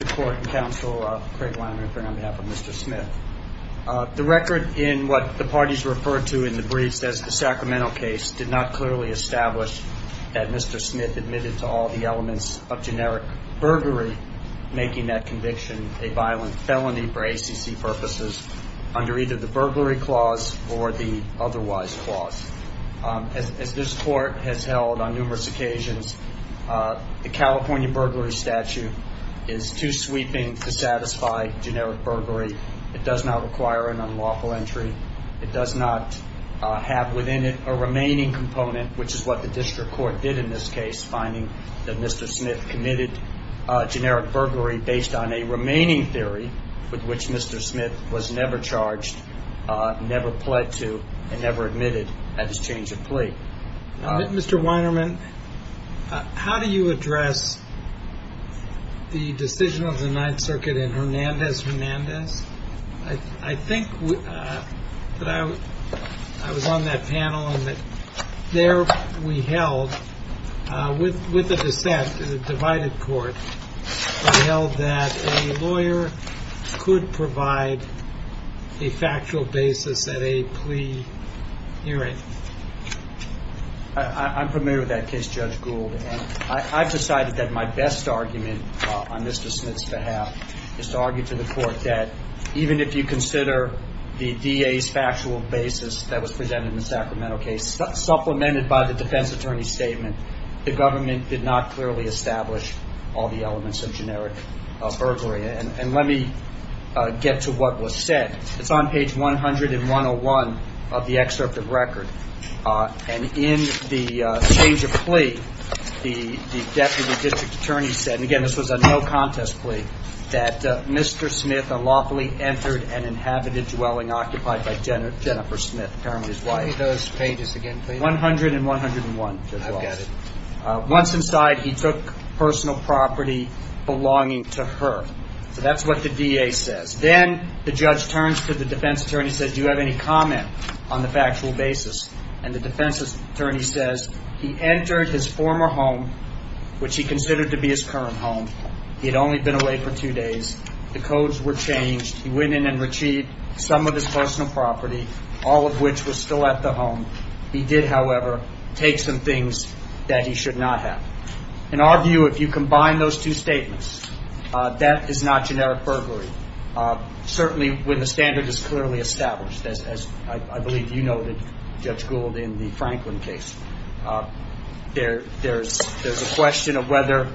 The record in what the parties referred to in the brief says the Sacramento case did not clearly establish that Mr. Smith admitted to all the elements of generic burglary, making that conviction a violent felony for ACC purposes under either the burglary clause or the otherwise clause. As this Court has held on numerous occasions, the California burglary statute is too sweeping to satisfy generic burglary. It does not require an unlawful entry. It does not have within it a remaining component, which is what the District Court did in this case, finding that Mr. Smith committed generic burglary based on a remaining theory with which Mr. Smith was never charged, never pled to, and never admitted at his change of plea. Mr. Weinerman, how do you address the decision of the Ninth Circuit in Hernandez-Hernandez? I think that I was on that panel and that there we held, with a dissent in a divided court, we held that a lawyer could provide a factual basis at a plea hearing. I'm familiar with that case, Judge Gould, and I've decided that my best argument on Mr. Smith's behalf is to argue to the Court that even if you consider the DA's factual basis that was presented in the Sacramento case supplemented by the defense attorney's statement, the government did not clearly establish all the elements of generic burglary. And let me get to what was said. It's on page 101 of the excerpt of record. And in the change of plea, the deputy district attorney said, and again, this was a no contest plea, that Mr. Smith unlawfully entered and inhabited dwelling occupied by Jennifer Smith, apparently his wife. Show me those pages again, please. 100 and 101. I've got it. Once inside, he took personal property belonging to her. So that's what the DA says. Then the judge turns to the defense attorney and says, do you have any comment on the factual basis? And the defense attorney says, he entered his former home, which he considered to be his current home. He had only been away for two days. The codes were changed. He went in and retrieved some of his personal property, all of which was still at the home. He did, however, take some things that he should not have. In our view, if you combine those two statements, that is not generic burglary, certainly when the standard is clearly established, as I believe you noted, Judge Gould, in the Franklin case. There's a question of whether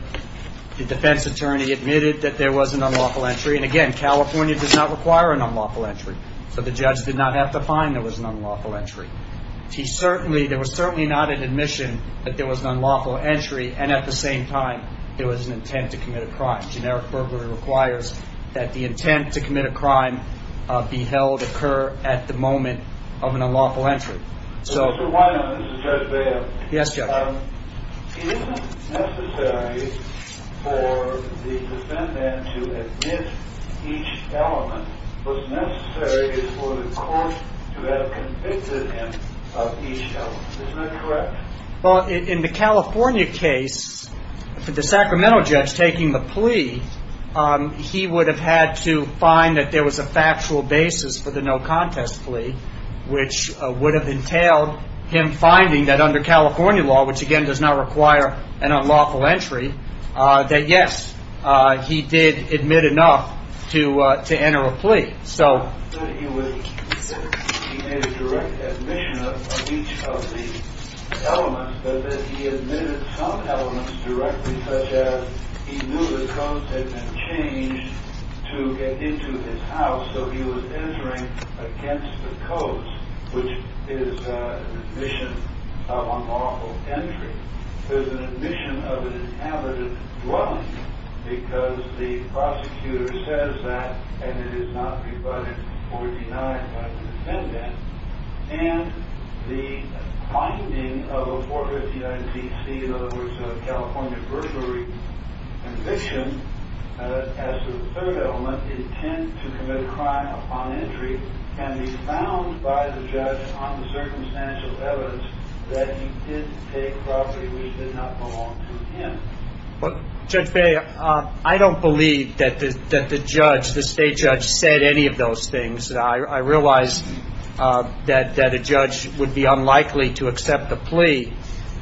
the defense attorney admitted that there was an unlawful entry. And again, California does not require an unlawful entry. So the judge did not have to find there was an unlawful entry. There was certainly not an admission that there was an unlawful entry. And at the same time, there was an intent to commit a crime. Generic burglary requires that the intent to commit a crime be held occur at the moment of an unlawful entry. Yes, Judge. He did admit enough to enter a plea. He admitted some elements directly, such as he knew the codes had been changed to get into his house, so he was entering against the codes, which is an admission of unlawful entry. There's an admission of an inhabitant dwelling, because the prosecutor says that, and it is not rebutted or denied by the defendant. And the finding of a 459-CC, in other words, a California burglary conviction, as to the third element, intent to commit a crime upon entry, can be found by the judge on the circumstantial evidence that he did take property which did not belong to him. Judge, I don't believe that the state judge said any of those things. I realize that a judge would be unlikely to accept a plea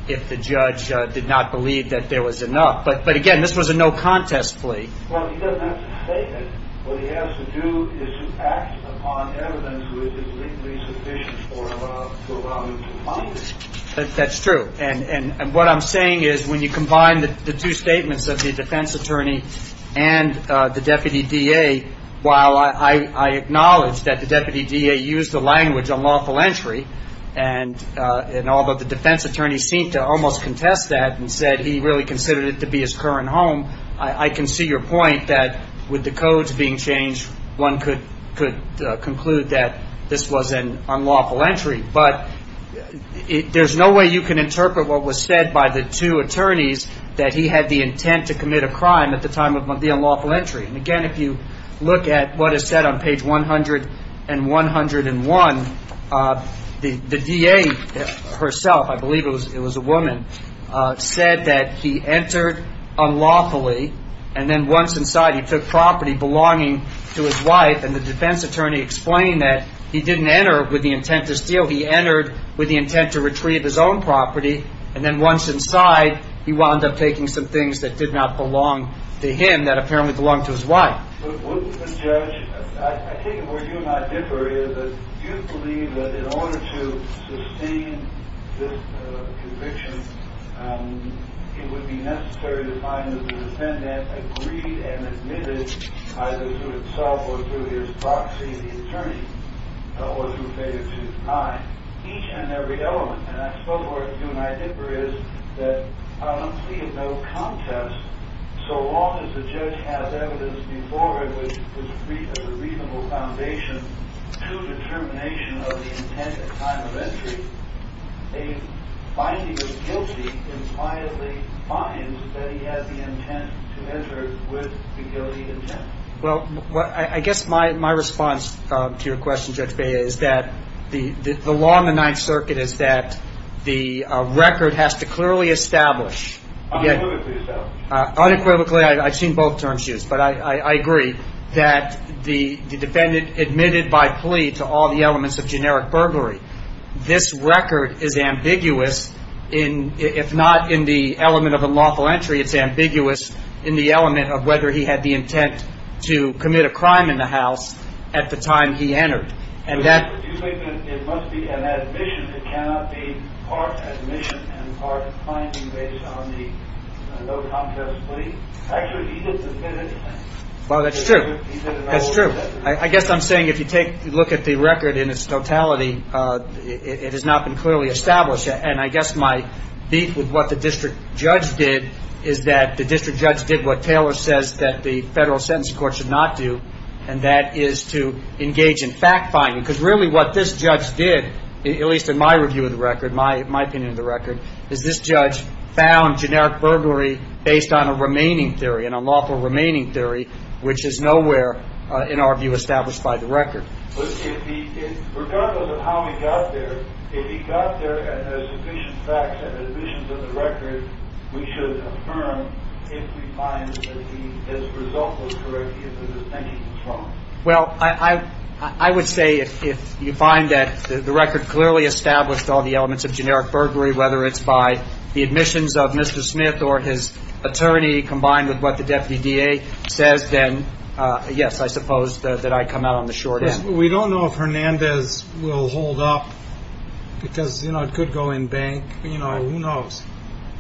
if the judge did not believe that there was enough. But again, this was a no-contest plea. Well, he doesn't have to say that. What he has to do is act upon evidence which is legally sufficient to allow him to find it. That's true. And what I'm saying is when you combine the two statements of the defense attorney and the deputy DA, while I acknowledge that the deputy DA used the language unlawful entry, and although the defense attorney seemed to almost contest that and said he really considered it to be his current home, I can see your point that with the codes being changed, one could conclude that this was an unlawful entry. But there's no way you can interpret what was said by the two attorneys that he had the intent to commit a crime at the time of the unlawful entry. And again, if you look at what is said on page 100 and 101, the DA herself, I believe it was a woman, said that he entered unlawfully and then once inside he took property belonging to his wife. And the defense attorney explained that he didn't enter with the intent to steal. He entered with the intent to retrieve his own property. And then once inside, he wound up taking some things that did not belong to him that apparently belonged to his wife. But wouldn't the judge, I take it where you and I differ, is that you believe that in order to sustain this conviction, it would be necessary to find that the defendant agreed and admitted either through himself or through his proxy, the attorney, or through failure to deny each and every element. And I suppose what you and I differ is that I don't see a real contest. So long as the judge has evidence before him which was a reasonable foundation to determination of the intent at the time of entry, a finding of guilty impliedly finds that he had the intent to enter with the guilty intent. Well, I guess my response to your question, Judge Bea, is that the law in the Ninth Circuit is that the record has to clearly establish. Unequivocally establish. Unequivocally, I've seen both terms used, but I agree that the defendant admitted by plea to all the elements of generic burglary. This record is ambiguous if not in the element of unlawful entry, it's ambiguous in the element of whether he had the intent to commit a crime in the house at the time he entered. Do you think that it must be an admission, it cannot be part admission and part finding based on the no-contest plea? Actually, he didn't admit anything. Well, that's true. That's true. I guess I'm saying if you take a look at the record in its totality, it has not been clearly established. And I guess my beef with what the district judge did is that the district judge did what Taylor says that the Federal Sentencing Court should not do, and that is to engage in fact-finding. Because really what this judge did, at least in my review of the record, my opinion of the record, is this judge found generic burglary based on a remaining theory, an unlawful remaining theory, which is nowhere, in our view, established by the record. Regardless of how he got there, if he got there and there's sufficient facts and admissions of the record, we should affirm if we find that the result was correct, if the distinction was wrong. Well, I would say if you find that the record clearly established all the elements of generic burglary, whether it's by the admissions of Mr. Smith or his attorney combined with what the deputy DA says, then yes, I suppose that I'd come out on the short end. We don't know if Hernandez will hold up because it could go in bank. Who knows?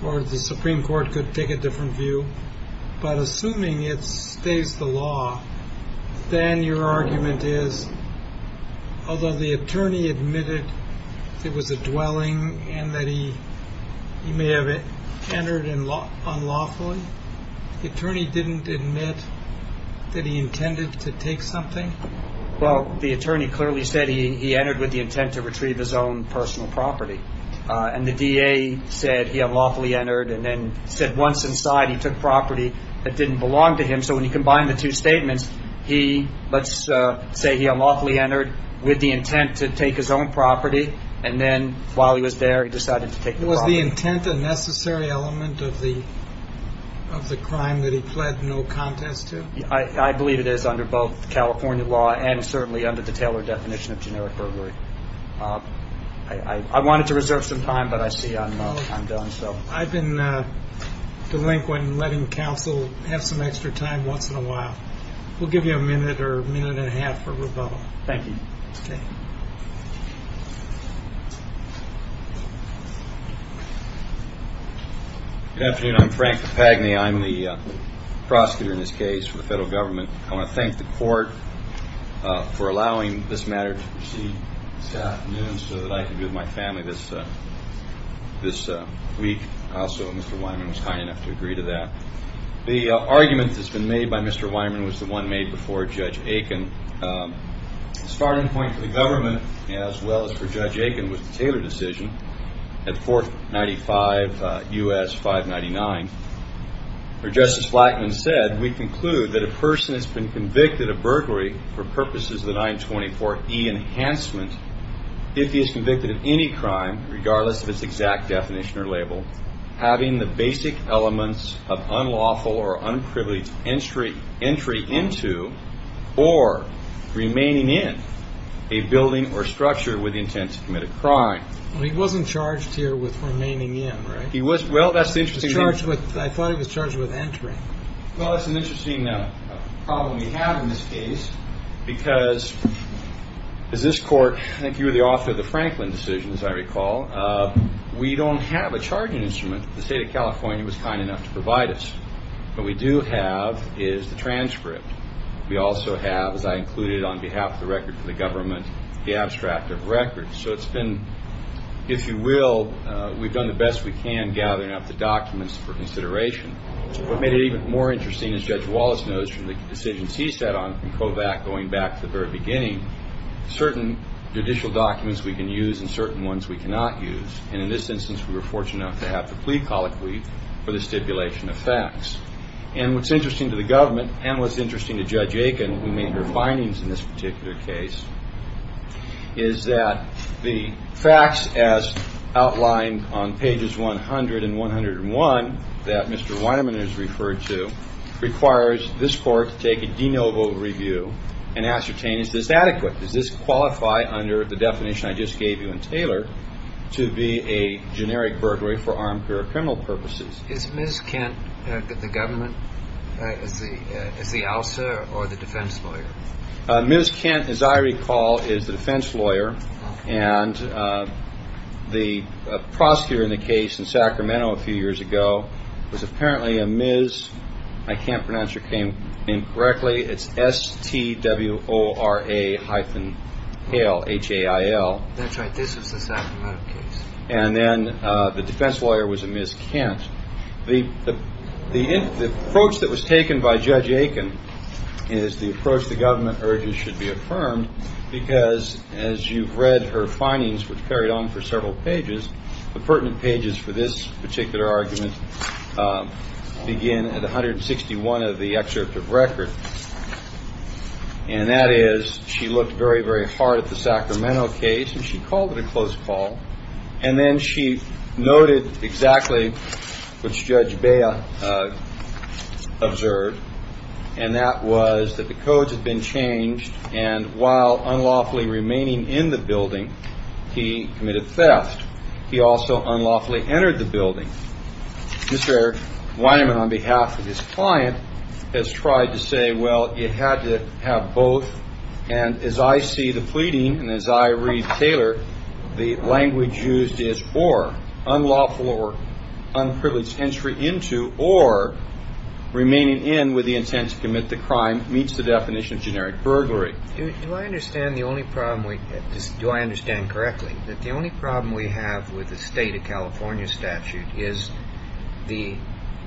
Or the Supreme Court could take a different view. But assuming it stays the law, then your argument is, although the attorney admitted it was a dwelling and that he may have entered unlawfully, the attorney didn't admit that he intended to take something? Well, the attorney clearly said he entered with the intent to retrieve his own personal property. And the DA said he unlawfully entered and then said once inside, he took property that didn't belong to him. So when you combine the two statements, let's say he unlawfully entered with the intent to take his own property. And then while he was there, he decided to take the property. Was the intent a necessary element of the crime that he pled no contest to? I believe it is under both California law and certainly under the Taylor definition of generic burglary. I wanted to reserve some time, but I see I'm done. I've been delinquent in letting counsel have some extra time once in a while. We'll give you a minute or a minute and a half for rebuttal. Thank you. Good afternoon. I'm Frank Papagni. I'm the prosecutor in this case for the federal government. I want to thank the court for allowing this matter to proceed this afternoon so that I can be with my family this week. Also, Mr. Weinman was kind enough to agree to that. The argument that's been made by Mr. Weinman was the one made before Judge Aiken. The starting point for the government as well as for Judge Aiken was the Taylor decision at 495 U.S. 599. Well, he wasn't charged here with remaining in, right? I thought he was charged with entering. Well, that's an interesting problem we have in this case because as this court, I think you were the author of the Franklin decision, as I recall. We don't have a charging instrument. The state of California was kind enough to provide us. What we do have is the transcript. We also have, as I included on behalf of the record for the government, the abstract of records. So it's been, if you will, we've done the best we can gathering up the documents for consideration. What made it even more interesting, as Judge Wallace knows from the decisions he set on in Kovach going back to the very beginning, certain judicial documents we can use and certain ones we cannot use. And in this instance, we were fortunate enough to have the plea colloquy for the stipulation of facts. And what's interesting to the government and what's interesting to Judge Aiken, who made her findings in this particular case, is that the facts as outlined on pages 100 and 101 that Mr. Weinerman has referred to requires this court to take a de novo review and ascertain is this adequate? Does this qualify under the definition I just gave you in Taylor to be a generic burglary for armed or criminal purposes? Is Ms. Kent, the government, is the ALSA or the defense lawyer? Ms. Kent, as I recall, is the defense lawyer. And the prosecutor in the case in Sacramento a few years ago was apparently a Ms. I can't pronounce your name correctly. It's S-T-W-O-R-A hyphen H-A-I-L. That's right. This is the Sacramento case. And then the defense lawyer was a Ms. Kent. The approach that was taken by Judge Aiken is the approach the government urges should be affirmed, because as you've read her findings, which carried on for several pages, the pertinent pages for this particular argument begin at 161 of the excerpt of record. And that is she looked very, very hard at the Sacramento case, and she called it a close call. And then she noted exactly what Judge Bea observed, and that was that the codes had been changed. And while unlawfully remaining in the building, he committed theft. He also unlawfully entered the building. Mr. Weinman, on behalf of his client, has tried to say, well, it had to have both. And as I see the pleading and as I read Taylor, the language used is for unlawful or unprivileged entry into or remaining in with the intent to commit the crime meets the definition of generic burglary. Do I understand correctly that the only problem we have with the State of California statute is the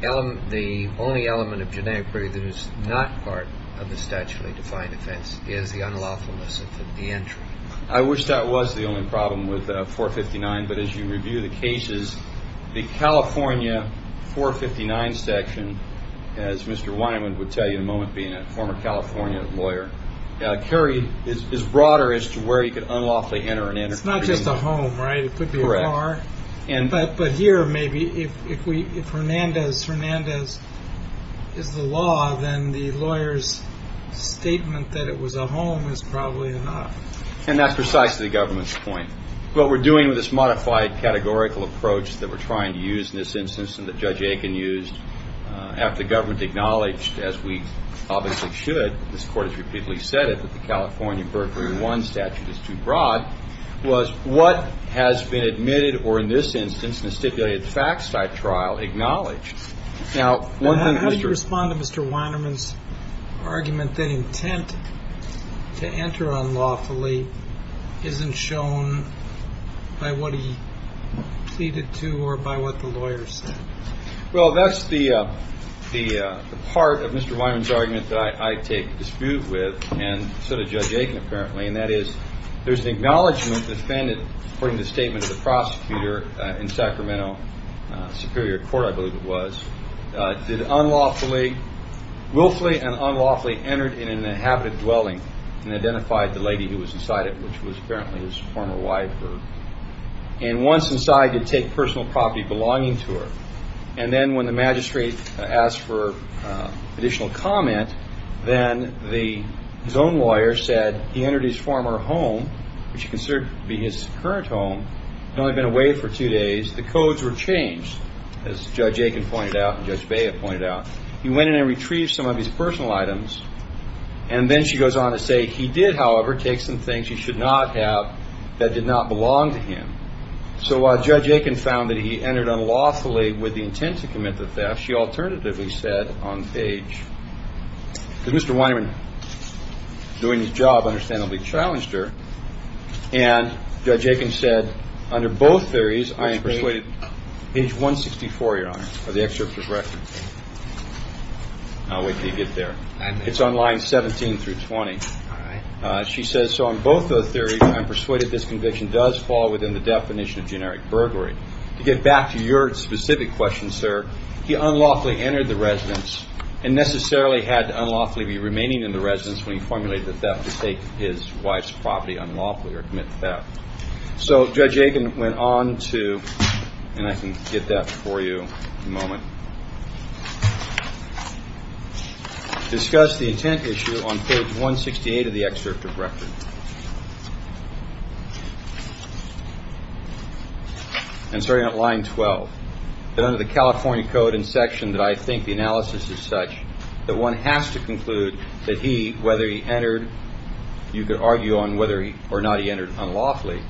only element of generic burglary that is not part of the statutory defined offense is the unlawfulness of the entry? I wish that was the only problem with 459, but as you review the cases, the California 459 section, as Mr. Weinman would tell you in a moment being a former California lawyer, is broader as to where you could unlawfully enter. It's not just a home, right? It could be a car. But here, maybe if Hernandez is the law, then the lawyer's statement that it was a home is probably not. And that's precisely the government's point. What we're doing with this modified categorical approach that we're trying to use in this instance and that Judge Aiken used, after government acknowledged, as we obviously should, this court has repeatedly said it, that the California burglary one statute is too broad, was what has been admitted or in this instance in a stipulated fact site trial acknowledged. Now, how do you respond to Mr. Weinman's argument that intent to enter unlawfully isn't shown by what he pleaded to or by what the lawyer said? Well, that's the part of Mr. Weinman's argument that I take dispute with, and so does Judge Aiken apparently, and that is there's an acknowledgment defended according to the statement of the prosecutor in Sacramento Superior Court, I believe it was, that unlawfully, willfully and unlawfully entered in an inhabited dwelling and identified the lady who was inside it, which was apparently his former wife, and once inside did take personal property belonging to her. And then when the magistrate asked for additional comment, then his own lawyer said he entered his former home, which he considered to be his current home, had only been away for two days. The codes were changed, as Judge Aiken pointed out and Judge Bea pointed out. He went in and retrieved some of his personal items, and then she goes on to say he did, however, take some things he should not have that did not belong to him. So while Judge Aiken found that he entered unlawfully with the intent to commit the theft, she alternatively said on page, because Mr. Weinman doing his job understandably challenged her, and Judge Aiken said, under both theories, I am persuaded page 164, Your Honor, of the excerpt of the record. I'll wait until you get there. It's on lines 17 through 20. She says, so on both those theories, I'm persuaded this conviction does fall within the definition of generic burglary. To get back to your specific question, sir, he unlawfully entered the residence and necessarily had to unlawfully be remaining in the residence when he formulated the theft to take his wife's property unlawfully or commit theft. So Judge Aiken went on to, and I can get that for you in a moment, discuss the intent issue on page 168 of the excerpt of record. And starting at line 12, that under the California Code and section that I think the analysis is such that one has to conclude that he, whether he entered, you could argue on whether or not he entered unlawfully.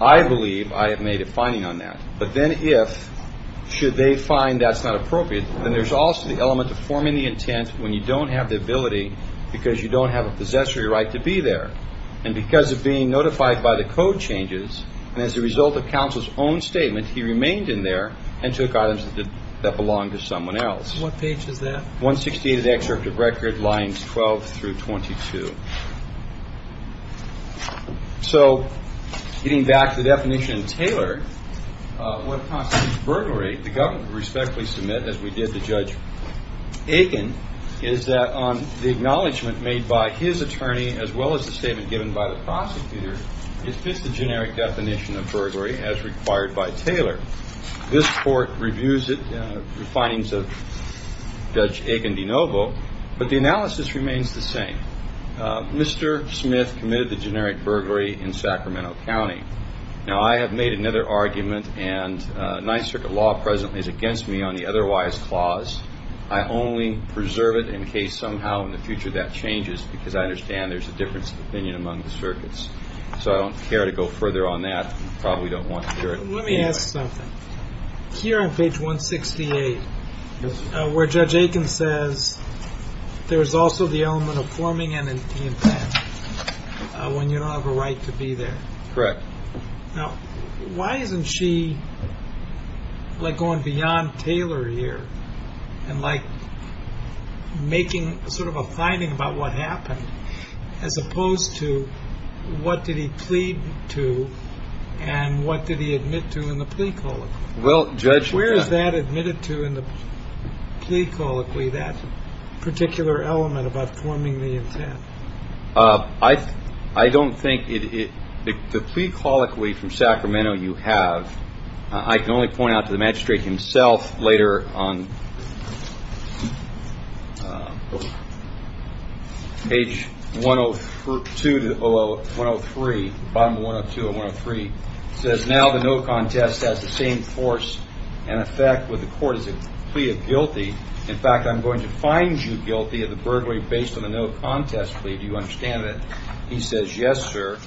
I believe I have made a finding on that. But then if, should they find that's not appropriate, then there's also the element of forming the intent when you don't have the ability, because you don't have a possessory right to be there. And because of being notified by the code changes, and as a result of counsel's own statement, he remained in there and took items that belonged to someone else. What page is that? 168 of the excerpt of record, lines 12 through 22. So getting back to the definition of Taylor, what constitutes burglary, the government would respectfully submit, as we did to Judge Aiken, is that the acknowledgment made by his attorney, as well as the statement given by the prosecutor, is just a generic definition of burglary as required by Taylor. This court reviews it, the findings of Judge Aiken de Novo, but the analysis remains the same. Mr. Smith committed the generic burglary in Sacramento County. Now, I have made another argument, and Ninth Circuit law presently is against me on the otherwise clause. I only preserve it in case somehow in the future that changes, because I understand there's a difference of opinion among the circuits. So I don't care to go further on that. Probably don't want to hear it. Let me ask something. Here on page 168, where Judge Aiken says, there is also the element of forming an intent when you don't have a right to be there. Correct. Now, why isn't she going beyond Taylor here and making sort of a finding about what happened, as opposed to what did he plead to and what did he admit to in the plea colloquy? Well, Judge. Where is that admitted to in the plea colloquy, that particular element about forming the intent? I don't think the plea colloquy from Sacramento you have. I can only point out to the magistrate himself later on page 102 to 103, bottom of 102 and 103, says now the no contest has the same force and effect with the court as a plea of guilty. In fact, I'm going to find you guilty of the burglary based on the no contest plea. Do you understand that? He says, yes, sir.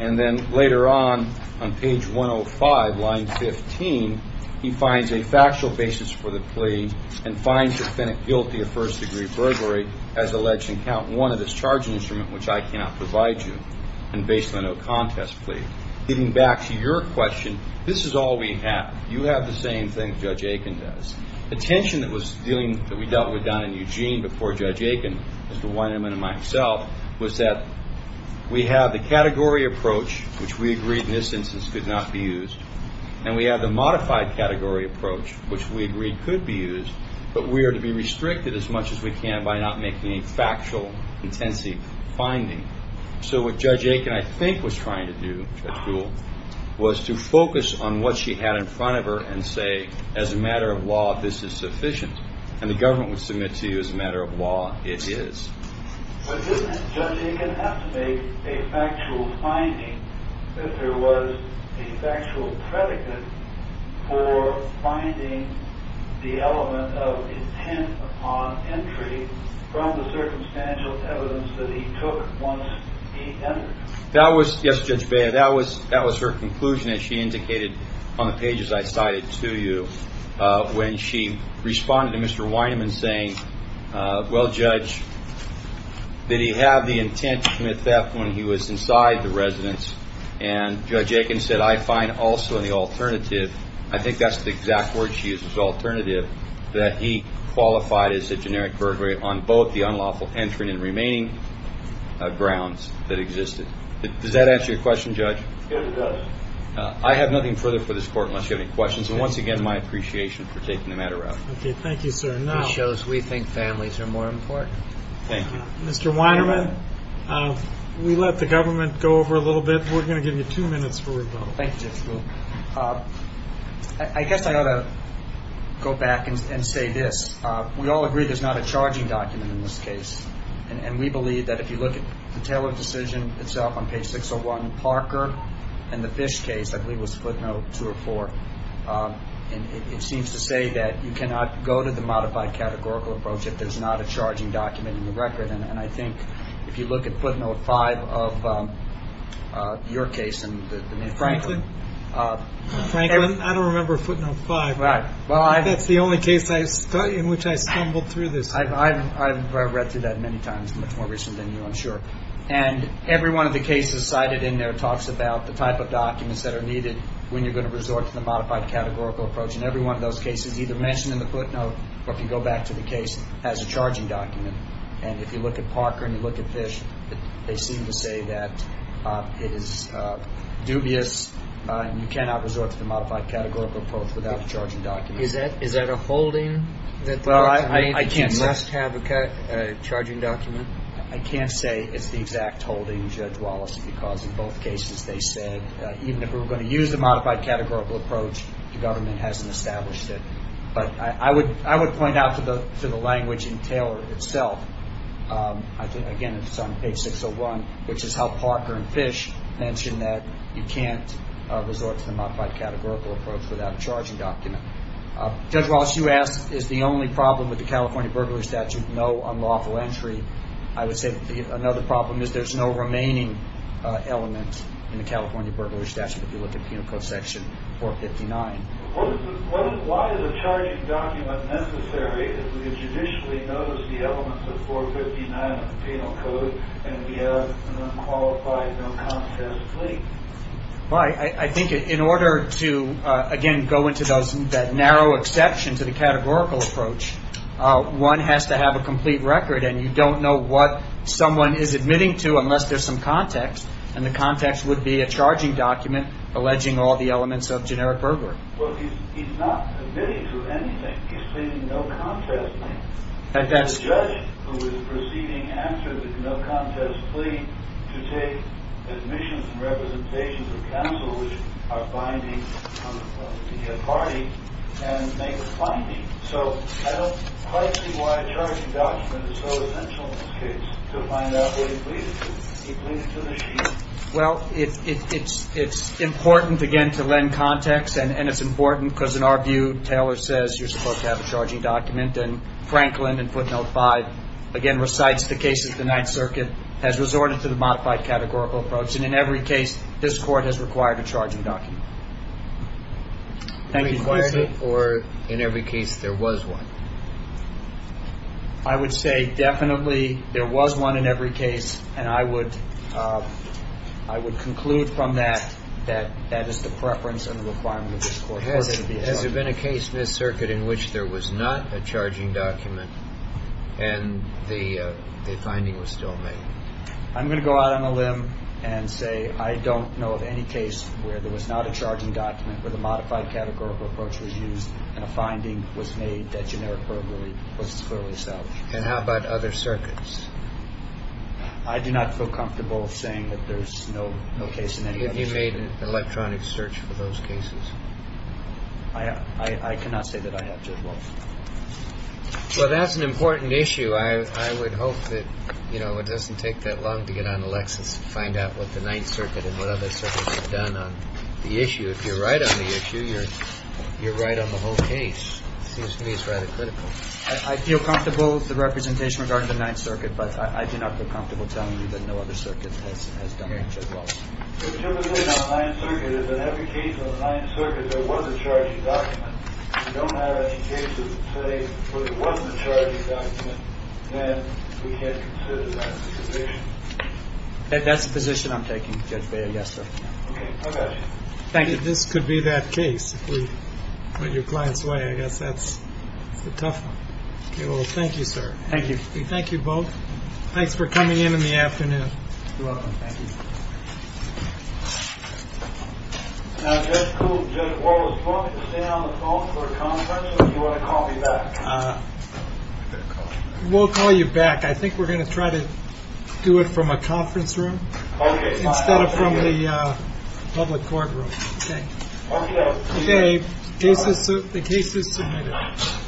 And then later on, on page 105, line 15, he finds a factual basis for the plea and finds the defendant guilty of first degree burglary as alleged in count one of his charging instrument, which I cannot provide you, and based on the no contest plea. Getting back to your question, this is all we have. You have the same thing Judge Aiken does. The tension that we dealt with down in Eugene before Judge Aiken, Mr. Weinerman and myself, was that we have the category approach, which we agreed in this instance could not be used, and we have the modified category approach, which we agreed could be used, but we are to be restricted as much as we can by not making a factual, intensive finding. So what Judge Aiken, I think, was trying to do, Judge Gould, was to focus on what she had in front of her and say, as a matter of law, this is sufficient. And the government would submit to you, as a matter of law, it is. But isn't it, Judge Aiken, have to make a factual finding if there was a factual predicate for finding the element of intent upon entry from the circumstantial evidence that he took once he entered? Yes, Judge Beyer, that was her conclusion, as she indicated on the pages I cited to you, when she responded to Mr. Weinerman saying, well, Judge, did he have the intent to commit theft when he was inside the residence? And Judge Aiken said, I find also in the alternative, I think that's the exact word she used was alternative, that he qualified as a generic perjury on both the unlawful entering and remaining grounds that existed. Does that answer your question, Judge? Yes, it does. I have nothing further for this court unless you have any questions. And once again, my appreciation for taking the matter up. Okay, thank you, sir. This shows we think families are more important. Thank you. Mr. Weinerman, we let the government go over a little bit. We're going to give you two minutes for rebuttal. Thank you, Judge Gould. I guess I ought to go back and say this. We all agree there's not a charging document in this case, and we believe that if you look at the Taylor decision itself on page 601, Parker, and the Fish case, I believe it was footnote two or four, and it seems to say that you cannot go to the modified categorical approach if there's not a charging document in the record. And I think if you look at footnote five of your case and Franklin. Franklin? Franklin? I don't remember footnote five. Right. That's the only case in which I stumbled through this. I've read through that many times, much more recently than you, I'm sure. And every one of the cases cited in there talks about the type of documents that are needed when you're going to resort to the modified categorical approach. And every one of those cases, either mentioned in the footnote or if you go back to the case, has a charging document. And if you look at Parker and you look at Fish, they seem to say that it is dubious and you cannot resort to the modified categorical approach without a charging document. Is that a holding? Well, I can't say. You must have a charging document. I can't say it's the exact holding, Judge Wallace, because in both cases they said even if we were going to use the modified categorical approach, the government hasn't established it. But I would point out to the language in Taylor itself, again, it's on page 601, which is how Parker and Fish mention that you can't resort to the modified categorical approach without a charging document. Judge Wallace, you asked is the only problem with the California Burglary Statute, no unlawful entry. I would say another problem is there's no remaining element in the California Burglary Statute if you look at Penal Code section 459. Why is a charging document necessary if we judicially notice the elements of 459 in the Penal Code and we have an unqualified, no contest plea? I think in order to, again, go into that narrow exception to the categorical approach, one has to have a complete record, and you don't know what someone is admitting to unless there's some context, and the context would be a charging document alleging all the elements of generic burglary. Well, he's not admitting to anything. He's pleading no contest. The judge who is proceeding after the no contest plea to take admissions and representations of counsel which are binding to get a party and make a finding. So I don't quite see why a charging document is so essential in this case to find out what he pleaded to. Well, it's important, again, to lend context, and it's important because in our view Taylor says you're supposed to have a charging document, and Franklin in footnote 5, again, recites the case of the Ninth Circuit, has resorted to the modified categorical approach, and in every case this Court has required a charging document. Thank you. Or in every case there was one? I would say definitely there was one in every case, and I would conclude from that that that is the preference and the requirement of this Court. Has there been a case in this circuit in which there was not a charging document and the finding was still made? I'm going to go out on a limb and say I don't know of any case where there was not a charging document, where the modified categorical approach was used and a finding was made that generically was clearly established. And how about other circuits? I do not feel comfortable saying that there's no case in any other circuit. Have you made an electronic search for those cases? I cannot say that I have, Judge Wolf. Well, that's an important issue. I would hope that it doesn't take that long to get on a Lexus and find out what the Ninth Circuit and what other circuits have done on the issue. If you're right on the issue, you're right on the whole case. It seems to me it's rather critical. I feel comfortable with the representation regarding the Ninth Circuit, but I do not feel comfortable telling you that no other circuit has done that, Judge Wolf. Okay. So typically on the Ninth Circuit, in every case on the Ninth Circuit, there was a charging document. We don't have any cases today where there wasn't a charging document and we can't consider that as a position? That's the position I'm taking, Judge Beyer. Yes, sir. Okay. I got you. Thank you. This could be that case if we put your clients away. I guess that's the tough one. Okay. Well, thank you, sir. Thank you. Thank you both. Thanks for coming in in the afternoon. You're welcome. Thank you. Now, Judge Wolf, do you want me to stay on the phone for a conference or do you want to call me back? We'll call you back. I think we're going to try to do it from a conference room. Okay. Instead of from the public courtroom. Okay. Okay. The case is submitted. Thank you. Thank you.